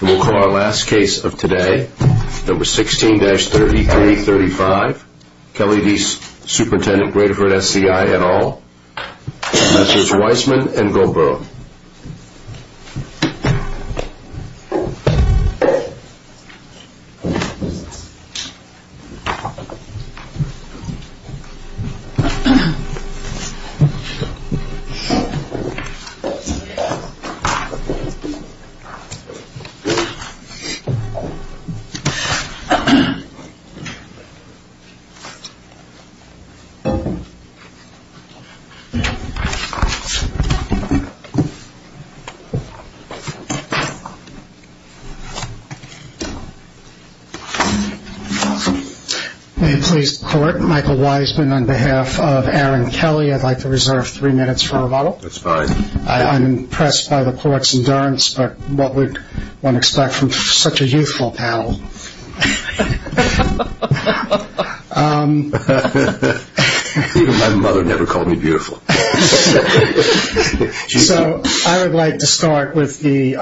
We'll call our last case of today, number 16-3335, Kelly D. Superintendent, Graterford SCI et al. Messrs. Weissman and Gaubert May it please the court, Michael Weissman on behalf of Aaron Kelly, I'd like to reserve three minutes for rebuttal. That's fine. I'm impressed by the court's endurance, but what would one expect from such a youthful panel? Even my mother never called me beautiful. So I would like to start with the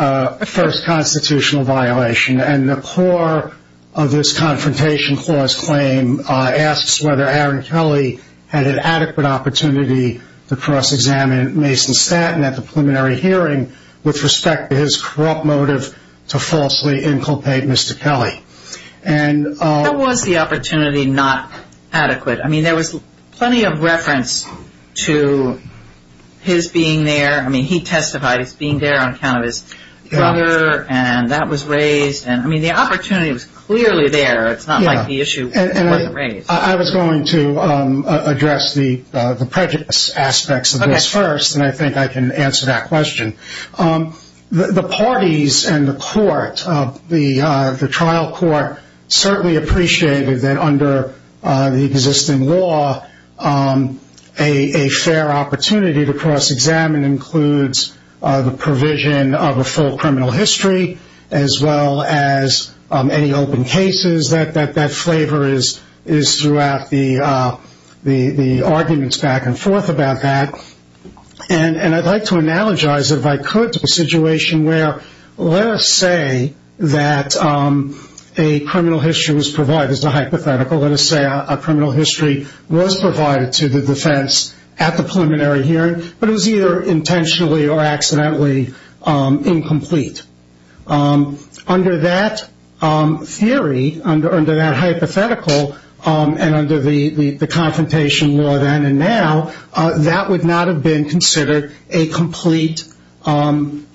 first constitutional violation, and the core of this Confrontation Clause claim asks whether Aaron Kelly had an adequate opportunity to cross-examine Mason Stanton at the preliminary hearing with respect to his corrupt motive to falsely inculpate Mr. Kelly. That was the opportunity not adequate. I mean, there was plenty of reference to his being there. I mean, he testified as being there on account of his brother, and that was raised. I mean, the opportunity was clearly there. It's not like the issue wasn't raised. I was going to address the prejudice aspects of this first, and I think I can answer that question. The parties and the trial court certainly appreciated that under the existing law, a fair opportunity to cross-examine includes the provision of a full criminal history, as well as any open cases. That flavor is throughout the arguments back and forth about that, and I'd like to analogize, if I could, to a situation where, let us say that a criminal history was provided as a hypothetical. Let us say a criminal history was provided to the defense at the preliminary hearing, but it was either intentionally or accidentally incomplete. Under that theory, under that hypothetical, and under the confrontation law then and now, that would not have been considered a complete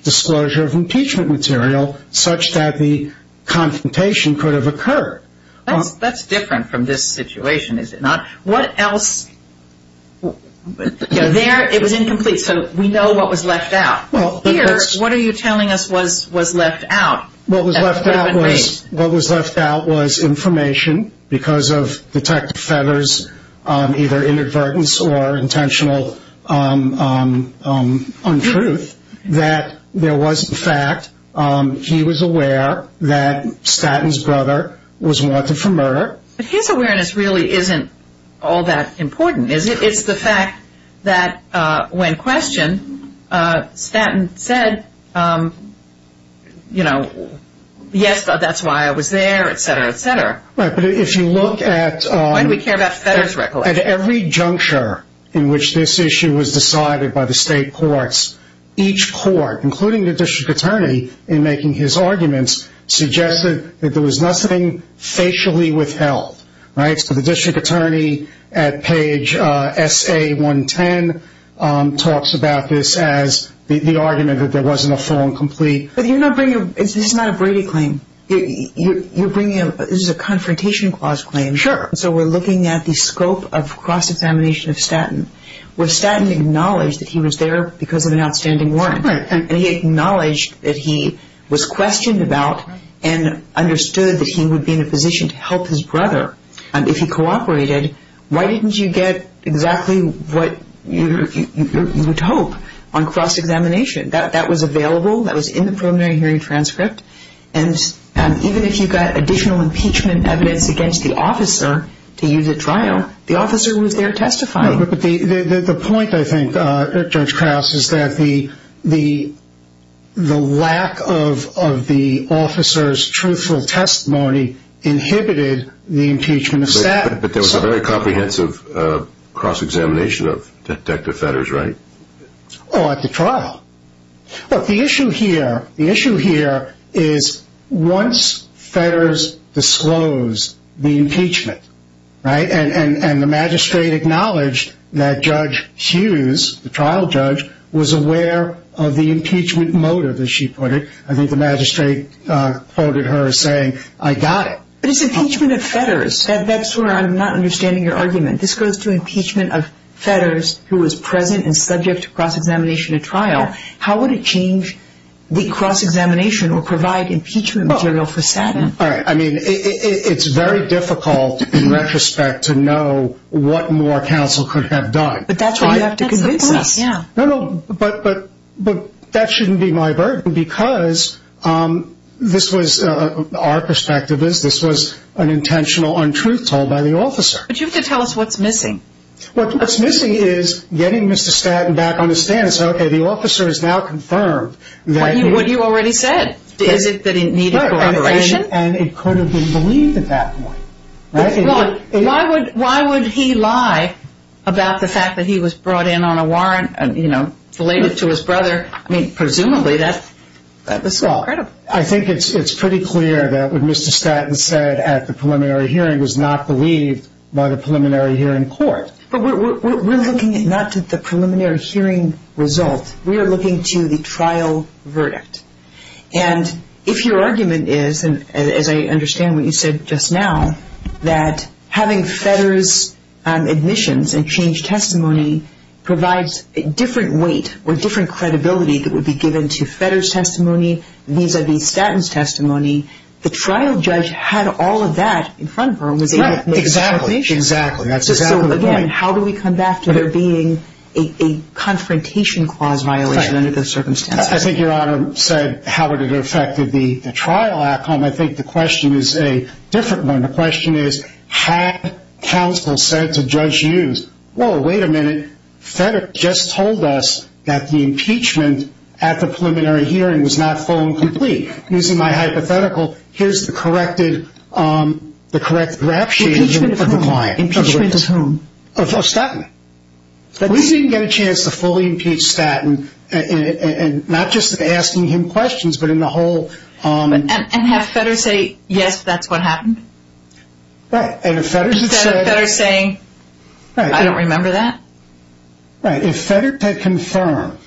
disclosure of impeachment material, such that the confrontation could have occurred. That's different from this situation, is it not? What else? There, it was incomplete, so we know what was left out. Here, what are you telling us was left out? What was left out was information, because of Detective Fedder's either inadvertence or intentional untruth, that there was in fact, he was aware that Statton's brother was wanted for murder. But his awareness really isn't all that important, is it? It's the fact that when questioned, Statton said, you know, yes, that's why I was there, etc., etc. Right, but if you look at every juncture in which this issue was decided by the state courts, each court, including the district attorney, in making his arguments, suggested that there was nothing facially withheld. Right, so the district attorney at page SA110 talks about this as the argument that there wasn't a full and complete... But you're not bringing, this is not a Brady claim. You're bringing, this is a confrontation clause claim. Sure. So we're looking at the scope of cross-examination of Statton, where Statton acknowledged that he was there because of an outstanding warrant. Right. And he acknowledged that he was questioned about and understood that he would be in a position to help his brother if he cooperated. Why didn't you get exactly what you would hope on cross-examination? That was available. That was in the preliminary hearing transcript. And even if you got additional impeachment evidence against the officer to use at trial, the officer was there testifying. The point, I think, Judge Krause, is that the lack of the officer's truthful testimony inhibited the impeachment of Statton. But there was a very comprehensive cross-examination of Detective Fedders, right? Oh, at the trial. Look, the issue here, the issue here is once Fedders disclosed the impeachment, right, and the magistrate acknowledged that Judge Hughes, the trial judge, was aware of the impeachment motive, as she put it, I think the magistrate quoted her as saying, I got it. But it's impeachment of Fedders. That's where I'm not understanding your argument. This goes to impeachment of Fedders, who was present and subject to cross-examination at trial. How would it change the cross-examination or provide impeachment material for Statton? All right. I mean, it's very difficult, in retrospect, to know what more counsel could have done. But that's why you have to convince us. No, no. But that shouldn't be my burden because this was, our perspective is, this was an intentional untruth told by the officer. But you have to tell us what's missing. What's missing is getting Mr. Statton back on the stand and saying, okay, the officer is now confirmed. What you already said. Is it that he needed corroboration? And it could have been believed at that point. Why would he lie about the fact that he was brought in on a warrant, you know, related to his brother? I mean, presumably, that's incredible. I think it's pretty clear that what Mr. Statton said at the preliminary hearing was not believed by the preliminary hearing court. But we're looking not at the preliminary hearing result. We are looking to the trial verdict. And if your argument is, as I understand what you said just now, that having Fedders' admissions and change testimony provides a different weight or different credibility that would be given to Fedders' testimony vis-à-vis Statton's testimony, the trial judge had all of that in front of her and was able to make a determination. Exactly. Exactly. That's exactly right. So, again, how do we come back to there being a confrontation clause violation under those circumstances? I think Your Honor said how would it have affected the trial outcome. I think the question is a different one. The question is, had counsel said to Judge Hughes, whoa, wait a minute, Fedder just told us that the impeachment at the preliminary hearing was not full and complete. Using my hypothetical, here's the correct rap sheet of the client. Impeachment of whom? Of Statton. We didn't get a chance to fully impeach Statton, and not just asking him questions, but in the whole. And have Fedders say, yes, that's what happened? Right. Instead of Fedders saying, I don't remember that? Right. If Fedders had confirmed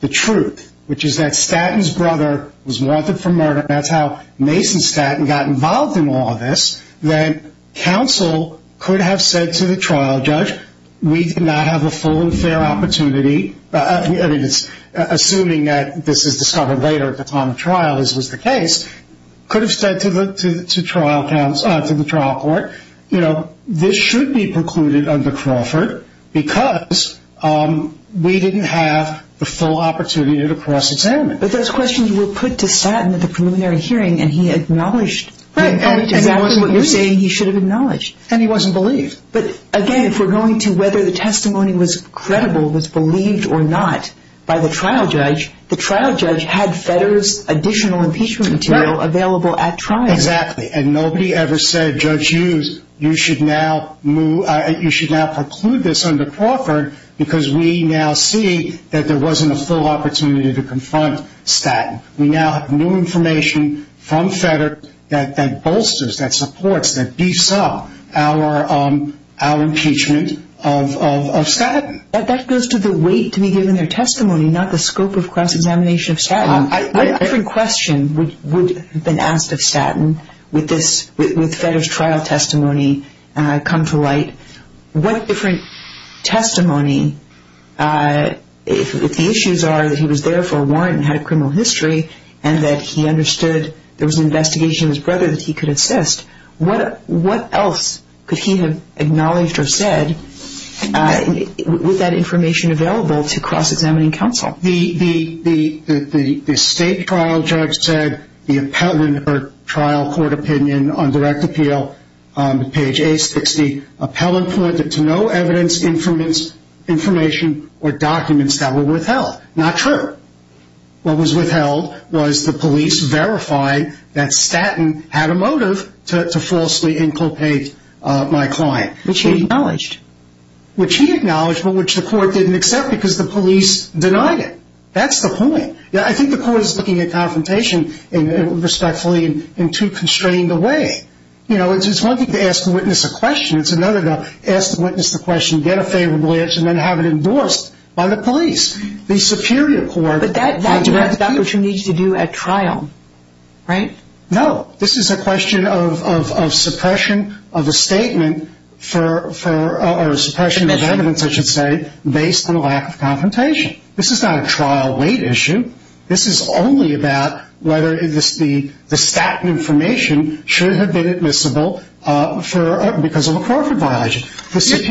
the truth, which is that Statton's brother was wanted for murder, and that's how Mason Statton got involved in all of this, then counsel could have said to the trial judge, we did not have a full and fair opportunity, assuming that this is discovered later at the time of trial, as was the case, could have said to the trial court, you know, this should be precluded under Crawford because we didn't have the full opportunity to cross-examine. But those questions were put to Statton at the preliminary hearing, and he acknowledged the impeachment. Right, and that's what you're saying he should have acknowledged. And he wasn't believed. But again, if we're going to whether the testimony was credible, was believed or not, by the trial judge, the trial judge had Fedders' additional impeachment material available at trial. Exactly, and nobody ever said, Judge Hughes, you should now preclude this under Crawford because we now see that there wasn't a full opportunity to confront Statton. We now have new information from Fedder that bolsters, that supports, that besaw our impeachment of Statton. That goes to the weight to be given their testimony, not the scope of cross-examination of Statton. What different question would have been asked of Statton with Fedder's trial testimony come to light? What different testimony, if the issues are that he was there for a warrant and had a criminal history and that he understood there was an investigation of his brother that he could assist, what else could he have acknowledged or said with that information available to cross-examining counsel? The state trial judge said the appellant or trial court opinion on direct appeal on page 860, appellant pointed to no evidence, information, or documents that were withheld. Not true. What was withheld was the police verify that Statton had a motive to falsely inculpate my client. Which he acknowledged. Which he acknowledged, but which the court didn't accept because the police denied it. That's the point. I think the court is looking at confrontation respectfully in too constrained a way. You know, it's one thing to ask the witness a question. It's another to ask the witness the question, get a favorable answer, and then have it endorsed by the police. The superior court on direct appeal. But that's what you need to do at trial, right? No. This is a question of suppression of a statement or suppression of evidence, I should say, based on a lack of confrontation. This is not a trial weight issue. This is only about whether the Statton information should have been admissible because of a Crawford violation.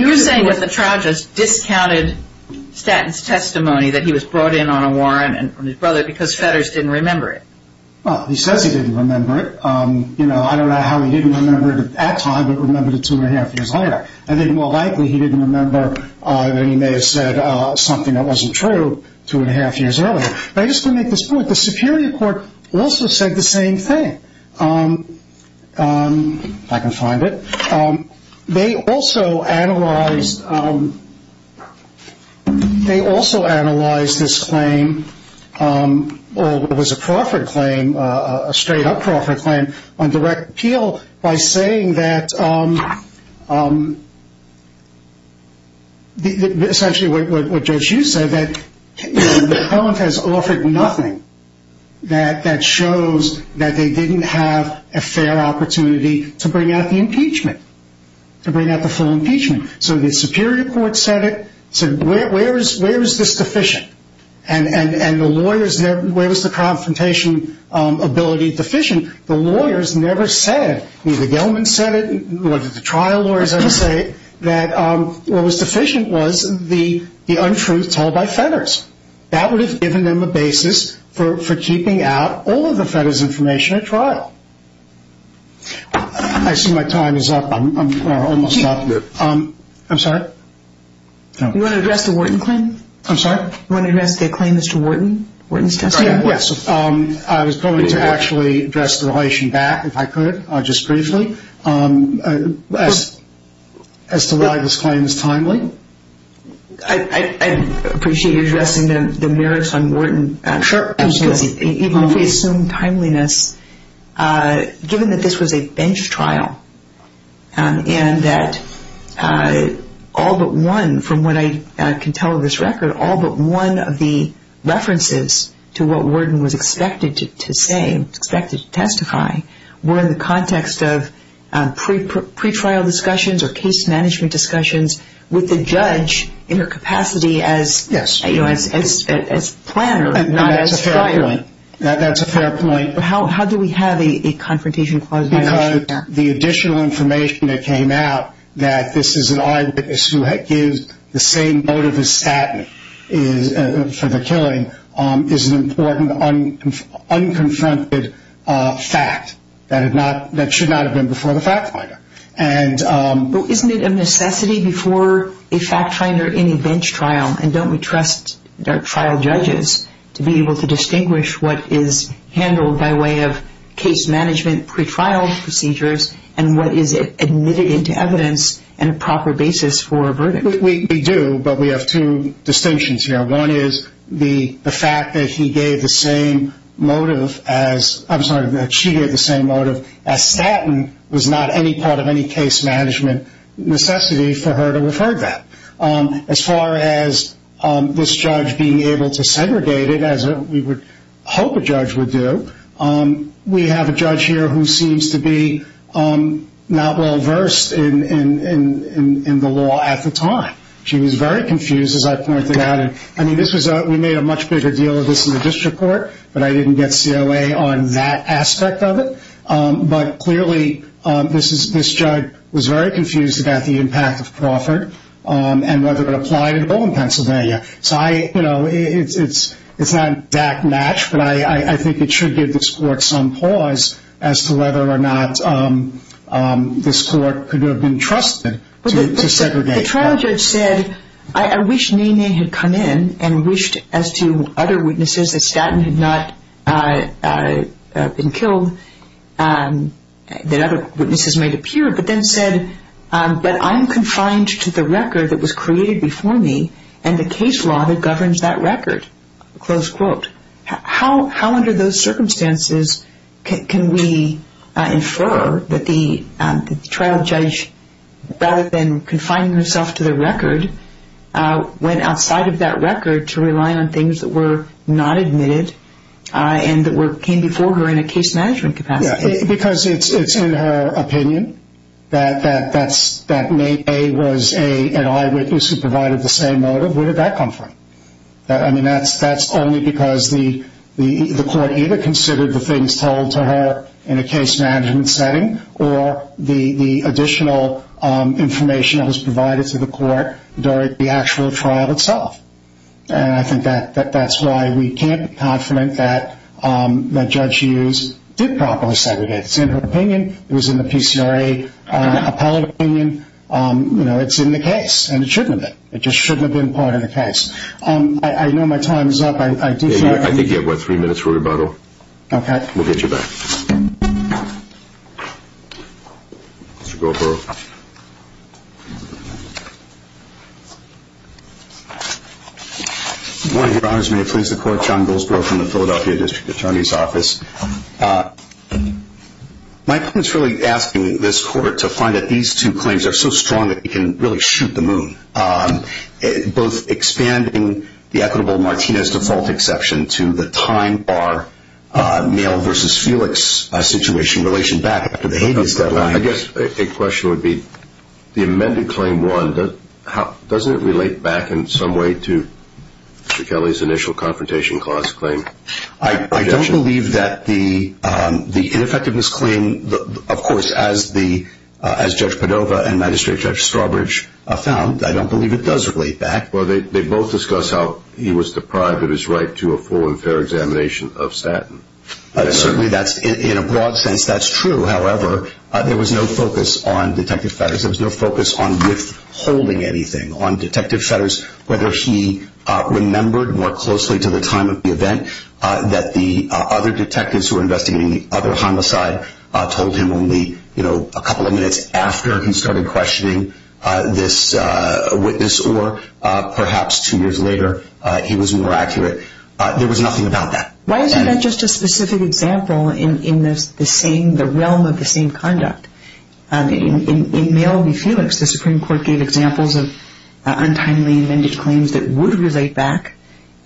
You're saying that the trial just discounted Statton's testimony that he was brought in on a warrant from his brother because Fetters didn't remember it. Well, he says he didn't remember it. You know, I don't know how he didn't remember it at that time, but remembered it two and a half years later. I think more likely he didn't remember that he may have said something that wasn't true two and a half years earlier. But I just want to make this point. The superior court also said the same thing. If I can find it. They also analyzed this claim, or it was a Crawford claim, a straight up Crawford claim, on direct appeal by saying that, essentially what Judge Hughes said, that the appellant has offered nothing that shows that they didn't have a fair opportunity to bring out the impeachment, to bring out the full impeachment. So the superior court said it, said where is this deficient? And the lawyers, where was the confrontation ability deficient? The lawyers never said, neither Gelman said it, nor did the trial lawyers ever say it, that what was deficient was the untruth told by Fetters. That would have given them a basis for keeping out all of the Fetters' information at trial. I see my time is up. I'm almost up. I'm sorry? You want to address the Wharton claim? I'm sorry? You want to address their claim as to Wharton's testimony? Yes. I was going to actually address the relation back, if I could, just briefly, as to why this claim is timely. I appreciate you addressing the merits on Wharton. Sure. Even if we assume timeliness, given that this was a bench trial and that all but one, from what I can tell of this record, all but one of the references to what Wharton was expected to say, expected to testify, were in the context of pretrial discussions or case management discussions with the judge in her capacity as planner, not as trial lawyer. That's a fair point. How do we have a confrontation clause? Because the additional information that came out that this is an eyewitness who gives the same motive as Staten for the killing is an important unconfronted fact. That should not have been before the fact finder. Isn't it a necessity before a fact finder in a bench trial, and don't we trust trial judges to be able to distinguish what is handled by way of case management, pretrial procedures, and what is admitted into evidence and a proper basis for a verdict? We do, but we have two distinctions here. One is the fact that she gave the same motive as Staten was not any part of any case management necessity for her to have heard that. As far as this judge being able to segregate it, as we would hope a judge would do, we have a judge here who seems to be not well versed in the law at the time. She was very confused, as I pointed out. We made a much bigger deal of this in the district court, but I didn't get COA on that aspect of it. But clearly this judge was very confused about the impact of Crawford and whether it applied at all in Pennsylvania. It's not an exact match, but I think it should give this court some pause as to whether or not this court could have been trusted to segregate. The trial judge said, I wish NeNe had come in and wished as to other witnesses that Staten had not been killed, that other witnesses might appear, but then said, but I'm confined to the record that was created before me and the case law that governs that record. How under those circumstances can we infer that the trial judge, rather than confining herself to the record, went outside of that record to rely on things that were not admitted and that came before her in a case management capacity? Because it's in her opinion that NeNe was an eyewitness who provided the same motive. Where did that come from? That's only because the court either considered the things told to her in a case management setting or the additional information that was provided to the court during the actual trial itself. I think that's why we can't be confident that Judge Hughes did properly segregate. It's in her opinion, it was in the PCRA appellate opinion, it's in the case and it shouldn't have been. I know my time is up. I think you have about three minutes for rebuttal. Okay. We'll get you back. Good morning, Your Honors. May it please the court? John Goldsborough from the Philadelphia District Attorney's Office. My point is really asking this court to find that these two claims are so strong that you can really shoot the moon. Both expanding the equitable Martinez default exception to the time bar male versus Felix situation in relation back to the habeas deadline. I guess a question would be the amended claim one, doesn't it relate back in some way to Mr. Kelly's initial confrontation clause claim? I don't believe that the ineffectiveness claim, of course, as Judge Padova and Magistrate Judge Strawbridge found, I don't believe it does relate back. Well, they both discussed how he was deprived of his right to a full and fair examination of statin. Certainly, in a broad sense, that's true. However, there was no focus on Detective Fedders. There was no focus on withholding anything on Detective Fedders, whether he remembered more closely to the time of the event that the other detectives who were investigating the other homicide told him only a couple of minutes after he started questioning this witness, or perhaps two years later, he was more accurate. There was nothing about that. Why isn't that just a specific example in the realm of the same conduct? In male v. Felix, the Supreme Court gave examples of untimely amended claims that would relate back,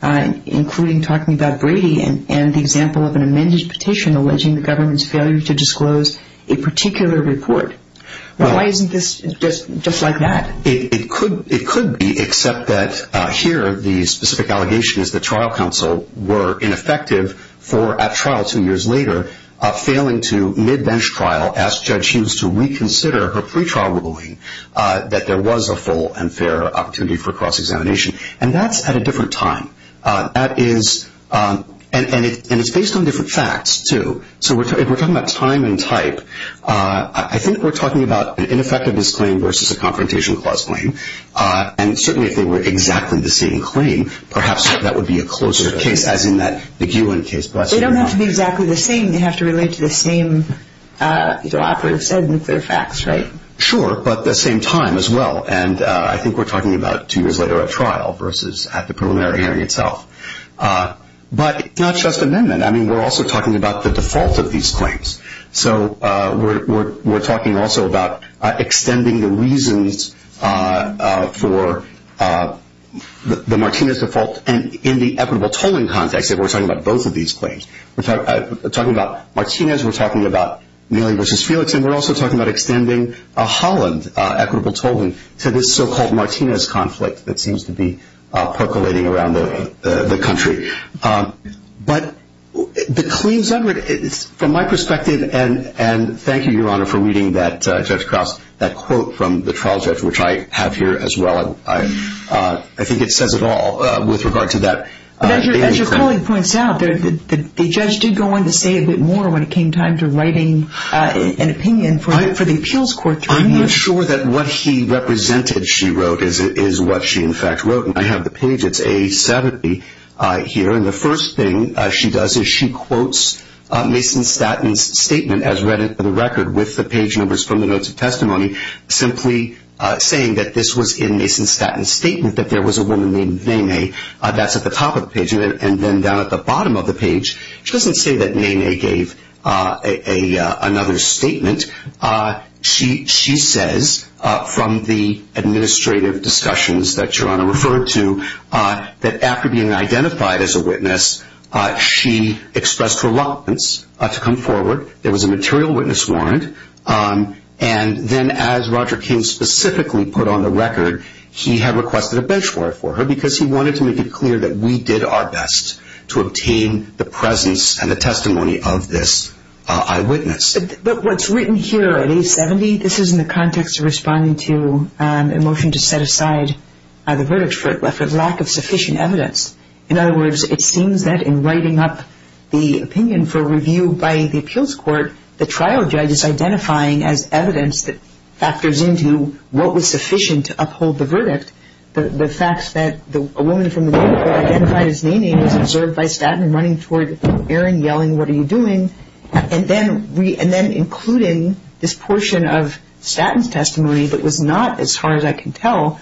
including talking about Brady and the example of an amended petition alleging the government's failure to disclose a particular report. Why isn't this just like that? It could be, except that here the specific allegation is the trial counsel were ineffective at trial two years later, failing to, mid-bench trial, ask Judge Hughes to reconsider her pretrial ruling that there was a full and fair opportunity for cross-examination. And that's at a different time. And it's based on different facts, too. So if we're talking about time and type, I think we're talking about an ineffectiveness claim versus a confrontation clause claim. And certainly if they were exactly the same claim, perhaps that would be a closer case, as in that McEwen case. They don't have to be exactly the same. They have to relate to the same operative said and clear facts, right? Sure, but the same time as well. And I think we're talking about two years later at trial versus at the preliminary hearing itself. But it's not just amendment. I mean, we're also talking about the default of these claims. So we're talking also about extending the reasons for the Martinez default in the equitable tolling context if we're talking about both of these claims. We're talking about Martinez. We're talking about Mealy v. Felix. And we're also talking about extending a Holland equitable tolling to this so-called Martinez conflict that seems to be percolating around the country. But the claims under it, from my perspective, and thank you, Your Honor, for reading that, Judge Krause, that quote from the trial judge, which I have here as well. I think it says it all with regard to that. As your colleague points out, the judge did go on to say a bit more when it came time to writing an opinion for the appeals court. I'm not sure that what he represented, she wrote, is what she, in fact, wrote. And I have the page. It's A-70 here. And the first thing she does is she quotes Mason Statton's statement as read into the record with the page numbers from the notes of testimony simply saying that this was in Mason Statton's statement that there was a woman named Nay-Nay. That's at the top of the page. And then down at the bottom of the page, she doesn't say that Nay-Nay gave another statement. She says from the administrative discussions that Your Honor referred to that after being identified as a witness, she expressed reluctance to come forward. There was a material witness warrant. And then as Roger King specifically put on the record, he had requested a bench warrant for her because he wanted to make it clear that we did our best to obtain the presence and the testimony of this eyewitness. But what's written here at A-70, this is in the context of responding to a motion to set aside the verdict for lack of sufficient evidence. In other words, it seems that in writing up the opinion for review by the appeals court, the trial judge is identifying as evidence that factors into what was sufficient to uphold the verdict. The fact that a woman from the women's court identified as Nay-Nay was observed by Statton running toward Erin yelling, what are you doing? And then including this portion of Statton's testimony that was not, as far as I can tell,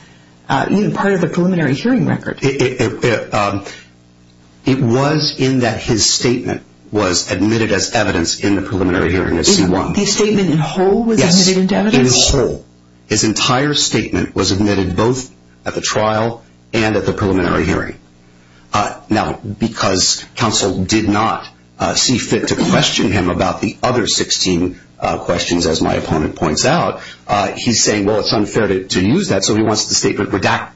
even part of the preliminary hearing record. It was in that his statement was admitted as evidence in the preliminary hearing of C-1. The statement in whole was admitted as evidence? Yes, in whole. His entire statement was admitted both at the trial and at the preliminary hearing. Now, because counsel did not see fit to question him about the other 16 questions, as my opponent points out, he's saying, well, it's unfair to use that, so he wants the statement redacted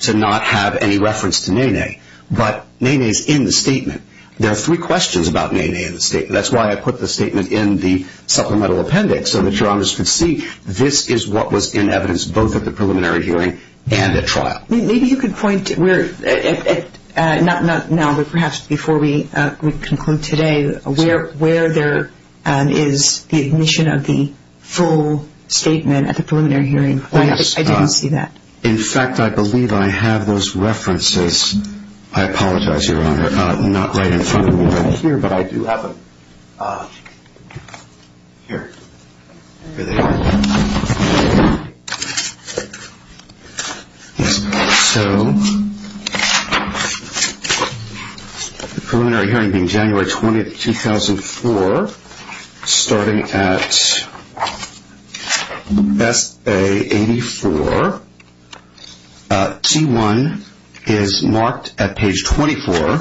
to not have any reference to Nay-Nay. But Nay-Nay is in the statement. There are three questions about Nay-Nay in the statement. That's why I put the statement in the supplemental appendix, so that your honors could see this is what was in evidence both at the preliminary hearing and at trial. Maybe you could point to where, not now, but perhaps before we conclude today, where there is the admission of the full statement at the preliminary hearing. I didn't see that. In fact, I believe I have those references. I apologize, Your Honor, not right in front of me right here, but I do have them here. Here they are. So the preliminary hearing being January 20, 2004, starting at S.A. 84. C1 is marked at page 24,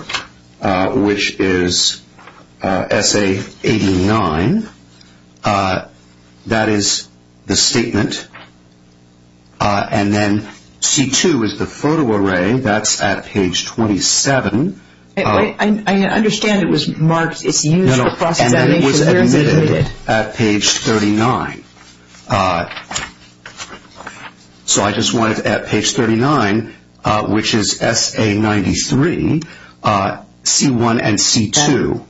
which is S.A. 89. That is the statement. And then C2 is the photo array. That's at page 27. I understand it was marked. No, no, and then it was omitted at page 39. So I just want it at page 39, which is S.A. 93, C1 and C2.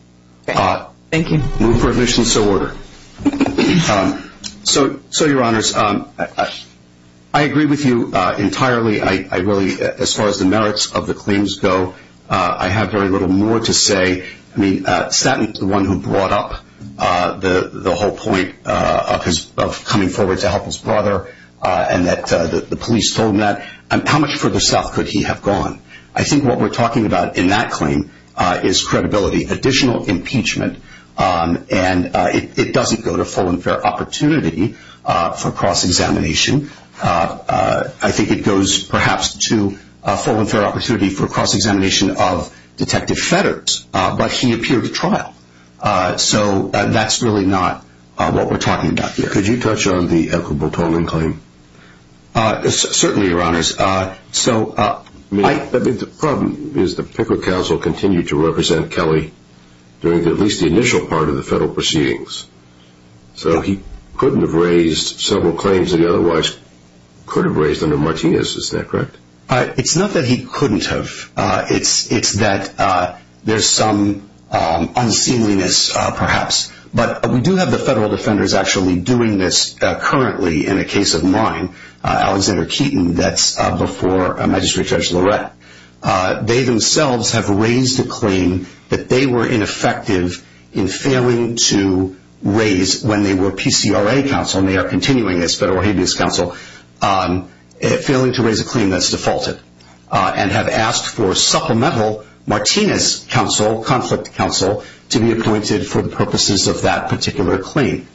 Thank you. Move for admission, so order. So, Your Honors, I agree with you entirely. I really, as far as the merits of the claims go, I have very little more to say. I mean, Stanton is the one who brought up the whole point of coming forward to help his brother and that the police told him that. How much further south could he have gone? I think what we're talking about in that claim is credibility, additional impeachment, and it doesn't go to full and fair opportunity for cross-examination. I think it goes, perhaps, to full and fair opportunity for cross-examination of Detective Fedders, but he appeared at trial. So that's really not what we're talking about here. Could you touch on the Edward Boltonian claim? Certainly, Your Honors. The problem is the Pickard Counsel continued to represent Kelly during at least the initial part of the federal proceedings. So he couldn't have raised several claims that he otherwise could have raised under Martinez. Is that correct? It's not that he couldn't have. It's that there's some unseemliness, perhaps. But we do have the federal defenders actually doing this currently in a case of mine, Alexander Keaton. That's before Magistrate Judge Lorette. They themselves have raised a claim that they were ineffective in failing to raise, when they were PCRA counsel and they are continuing as federal habeas counsel, failing to raise a claim that's defaulted and have asked for supplemental Martinez counsel, conflict counsel, to be appointed for the purposes of that particular claim.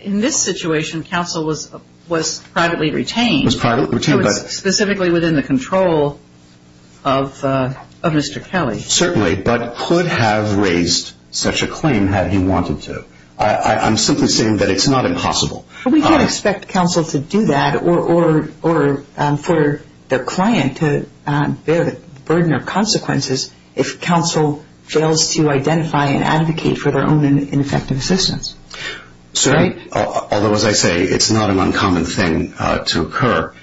In this situation, counsel was privately retained. Specifically within the control of Mr. Kelly. Certainly, but could have raised such a claim had he wanted to. I'm simply saying that it's not impossible. But we can't expect counsel to do that or for the client to bear the burden or consequences if counsel fails to identify and advocate for their own ineffective assistance. Sir? Although, as I say, it's not an uncommon thing to occur.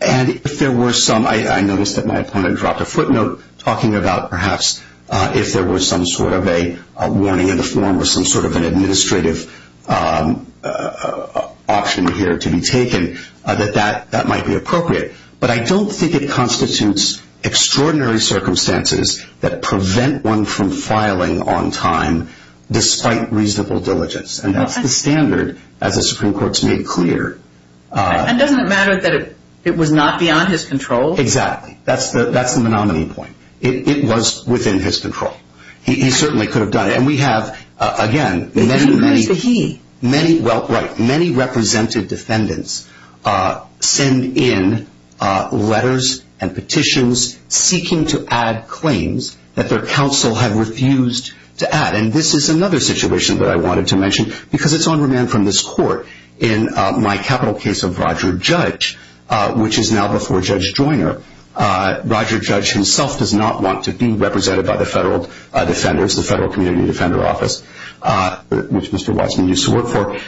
And if there were some, I noticed that my opponent dropped a footnote, talking about perhaps if there was some sort of a warning in the form or some sort of an administrative option here to be taken, that that might be appropriate. But I don't think it constitutes extraordinary circumstances that prevent one from filing on time, despite reasonable diligence. And that's the standard, as the Supreme Court's made clear. And doesn't it matter that it was not beyond his control? Exactly. That's the monomony point. It was within his control. He certainly could have done it. And we have, again, many, many. He raised the he. Many, well, right. Many represented defendants send in letters and petitions seeking to add claims that their counsel had refused to add. And this is another situation that I wanted to mention, because it's on remand from this court in my capital case of Roger Judge, which is now before Judge Joyner. Roger Judge himself does not want to be represented by the federal defenders, the Federal Community Defender Office, which Mr. Watson used to work for,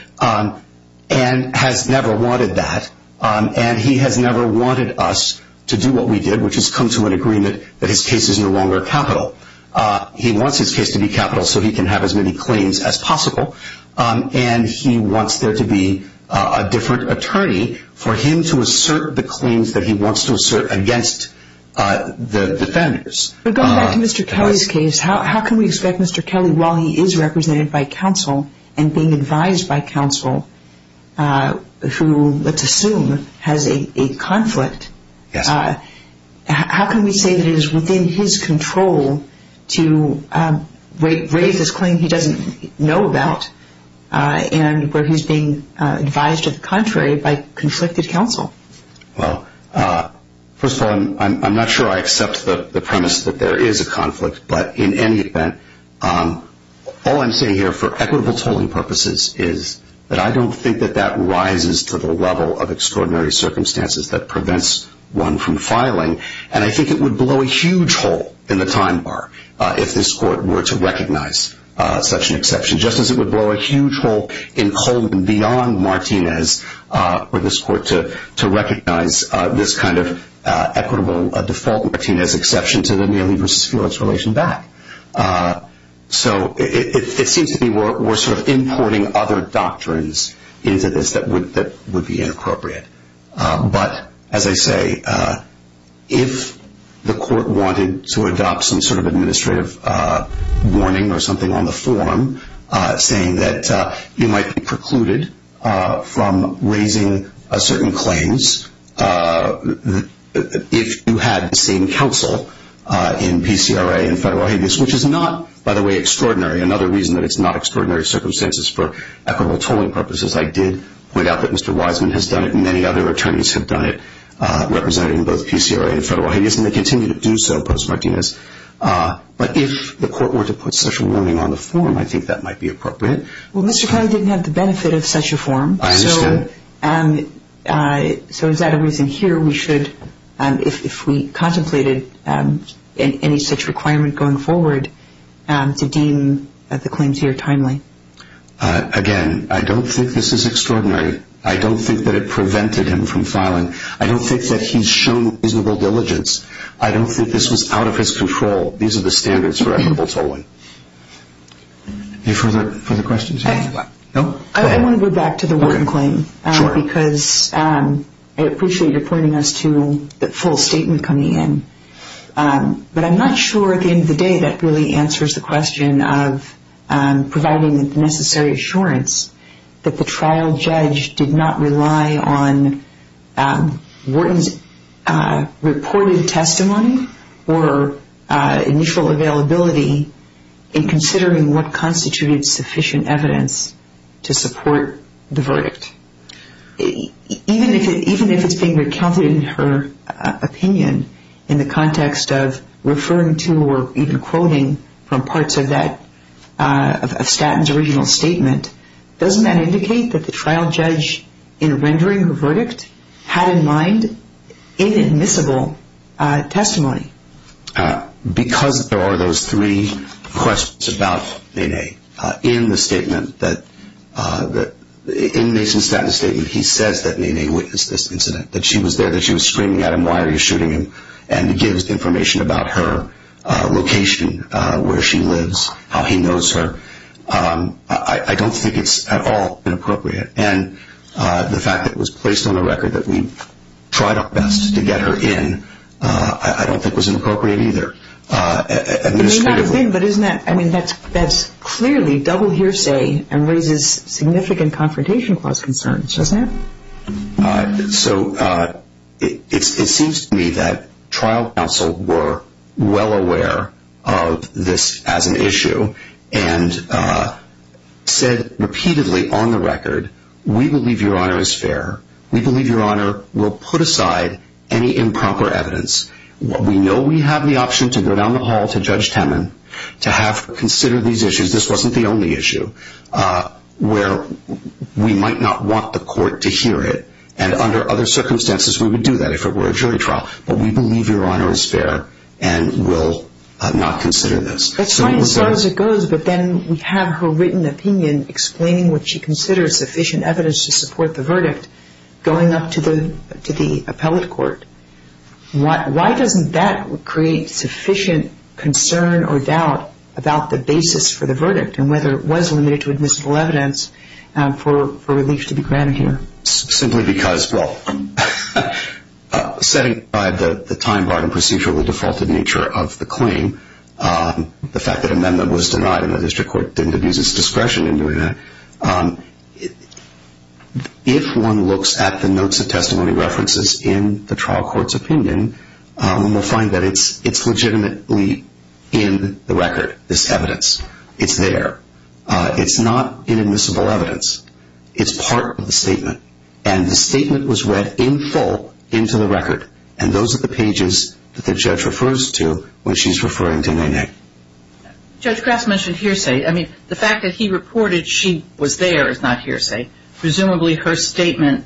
and has never wanted that. And he has never wanted us to do what we did, which is come to an agreement that his case is no longer capital. He wants his case to be capital so he can have as many claims as possible. And he wants there to be a different attorney for him to assert the claims that he wants to assert against the defenders. But going back to Mr. Kelly's case, how can we expect Mr. Kelly, while he is represented by counsel and being advised by counsel, who, let's assume, has a conflict, how can we say that it is within his control to raise this claim he doesn't know about and where he's being advised to the contrary by conflicted counsel? Well, first of all, I'm not sure I accept the premise that there is a conflict. But in any event, all I'm saying here for equitable tolling purposes is that I don't think that that rises to the level of extraordinary circumstances that prevents one from filing. And I think it would blow a huge hole in the time bar if this court were to recognize such an exception, just as it would blow a huge hole in Coleman beyond Martinez for this court to recognize this kind of equitable default Martinez exception to the Neely v. Felix relation back. So it seems to me we're sort of importing other doctrines into this that would be inappropriate. But, as I say, if the court wanted to adopt some sort of administrative warning or something on the form saying that you might be precluded from raising certain claims if you had the same counsel in PCRA and Federal Habeas, which is not, by the way, extraordinary. Another reason that it's not extraordinary circumstances for equitable tolling purposes. I did point out that Mr. Wiseman has done it and many other attorneys have done it, representing both PCRA and Federal Habeas, and they continue to do so post-Martinez. But if the court were to put such a warning on the form, I think that might be appropriate. Well, Mr. Coney didn't have the benefit of such a form. I understand. So is that a reason here we should, if we contemplated any such requirement going forward, to deem the claims here timely? Again, I don't think this is extraordinary. I don't think that it prevented him from filing. I don't think that he's shown reasonable diligence. I don't think this was out of his control. These are the standards for equitable tolling. Any further questions? I want to go back to the Wharton claim because I appreciate your pointing us to the full statement coming in. But I'm not sure at the end of the day that really answers the question of providing the necessary assurance that the trial judge did not rely on Wharton's reported testimony or initial availability in considering what constituted sufficient evidence to support the verdict. Even if it's being recounted in her opinion in the context of referring to or even quoting from parts of Statton's original statement, doesn't that indicate that the trial judge, in rendering her verdict, had in mind inadmissible testimony? Because there are those three questions about Nene. In the statement, in Mason Statton's statement, he says that Nene witnessed this incident, that she was there, that she was screaming at him, why are you shooting him, and gives information about her location, where she lives, how he knows her. I don't think it's at all inappropriate. And the fact that it was placed on the record that we tried our best to get her in, I don't think was inappropriate either. It may not have been, but that's clearly double hearsay and raises significant Confrontation Clause concerns, doesn't it? So it seems to me that trial counsel were well aware of this as an issue and said repeatedly on the record, we believe Your Honor is fair. We believe Your Honor will put aside any improper evidence. We know we have the option to go down the hall to Judge Temin to consider these issues. This wasn't the only issue where we might not want the court to hear it. And under other circumstances, we would do that if it were a jury trial. But we believe Your Honor is fair and will not consider this. That's fine as far as it goes, but then we have her written opinion explaining what she considers sufficient evidence to support the verdict going up to the appellate court. Why doesn't that create sufficient concern or doubt about the basis for the verdict and whether it was limited to admissible evidence for relief to be granted here? Simply because, well, setting aside the time-barred and procedurally defaulted nature of the claim, the fact that amendment was denied and the district court didn't abuse its discretion in doing that, if one looks at the notes of testimony references in the trial court's opinion, one will find that it's legitimately in the record, this evidence. It's there. It's not inadmissible evidence. It's part of the statement. And the statement was read in full into the record. And those are the pages that the judge refers to when she's referring to Nainé. Judge Kras mentioned hearsay. I mean, the fact that he reported she was there is not hearsay. Presumably her statement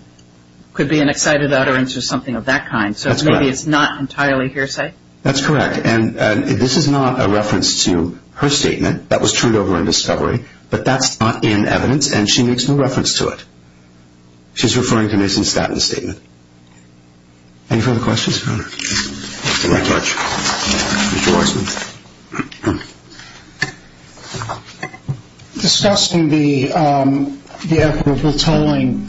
could be an excited utterance or something of that kind. So maybe it's not entirely hearsay? That's correct. And this is not a reference to her statement. That was turned over in discovery. But that's not in evidence, and she makes no reference to it. She's referring to Ms. Instatt in the statement. Any further questions? Thank you very much. Mr. Weissman. Discussing the equitable tolling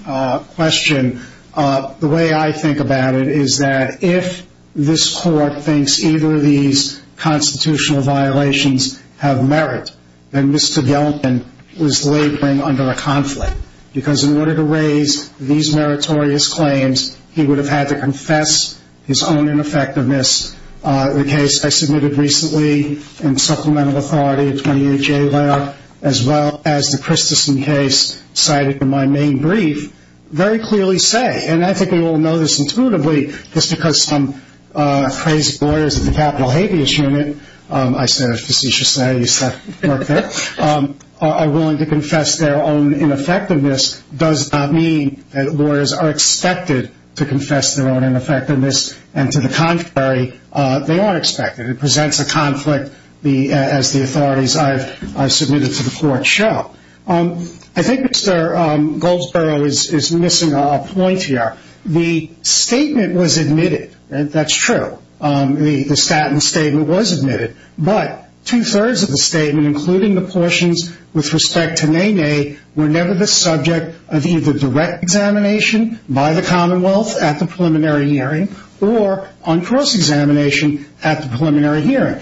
question, the way I think about it is that if this court thinks either of these constitutional violations have merit, then Mr. Gelpin was laboring under a conflict. Because in order to raise these meritorious claims, he would have had to confess his own ineffectiveness. The case I submitted recently in Supplemental Authority, a 20-year jailer, as well as the Christensen case cited in my main brief, very clearly say, and I think we all know this intuitively, just because some crazy lawyers at the Capitol Habeas Unit, I said it facetiously, I used that word there, are willing to confess their own ineffectiveness, does not mean that lawyers are expected to confess their own ineffectiveness. And to the contrary, they are expected. It presents a conflict as the authorities I've submitted to the court show. I think Mr. Goldsboro is missing a point here. The statement was admitted. That's true. The statin statement was admitted. But two-thirds of the statement, including the portions with respect to Nene, were never the subject of either direct examination by the Commonwealth at the preliminary hearing or on cross-examination at the preliminary hearing.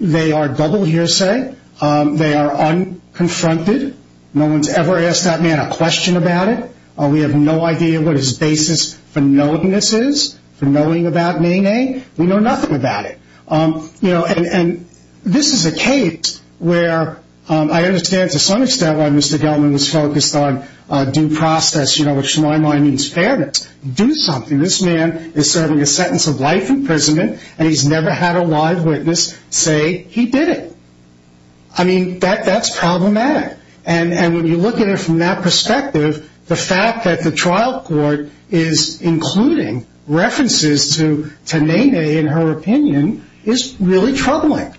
They are double hearsay. They are unconfronted. No one's ever asked that man a question about it. We have no idea what his basis for knowing this is, for knowing about Nene. We know nothing about it. And this is a case where I understand to some extent why Mr. Gellman was focused on due process, which to my mind means fairness. Do something. And this man is serving a sentence of life imprisonment, and he's never had a live witness say he did it. I mean, that's problematic. And when you look at it from that perspective, the fact that the trial court is including references to Nene, in her opinion, is really troubling.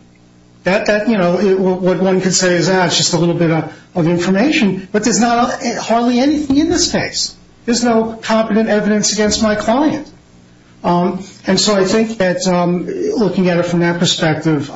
That, you know, what one could say is, ah, it's just a little bit of information. But there's not hardly anything in this case. There's no competent evidence against my client. And so I think that looking at it from that perspective,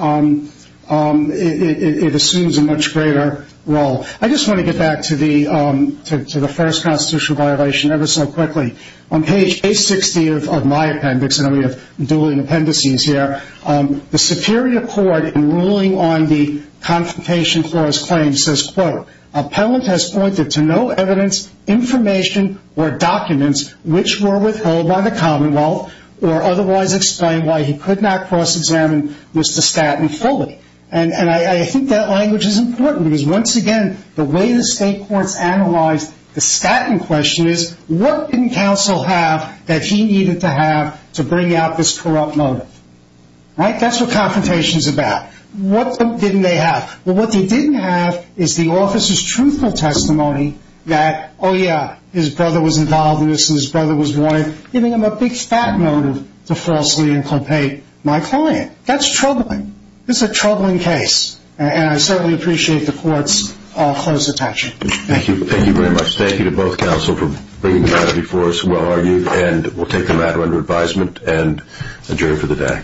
it assumes a much greater role. I just want to get back to the first constitutional violation ever so quickly. On page 860 of my appendix, and we have dueling appendices here, the Superior Court in ruling on the Confrontation Clause claim says, quote, Appellant has pointed to no evidence, information, or documents which were withheld by the Commonwealth or otherwise explain why he could not cross-examine Mr. Statton fully. And I think that language is important because, once again, the way the state courts analyze the Statton question is, what didn't counsel have that he needed to have to bring out this corrupt motive? Right? That's what confrontation is about. What didn't they have? Well, what they didn't have is the officer's truthful testimony that, oh, yeah, his brother was involved in this and his brother was wanted, giving him a big fat motive to falsely incriminate my client. That's troubling. It's a troubling case. And I certainly appreciate the court's close attention. Thank you. Thank you very much. Thank you to both counsel for bringing that up before us, well argued. And we'll take the matter under advisement and adjourn for the day. Court is adjourned. Thank you.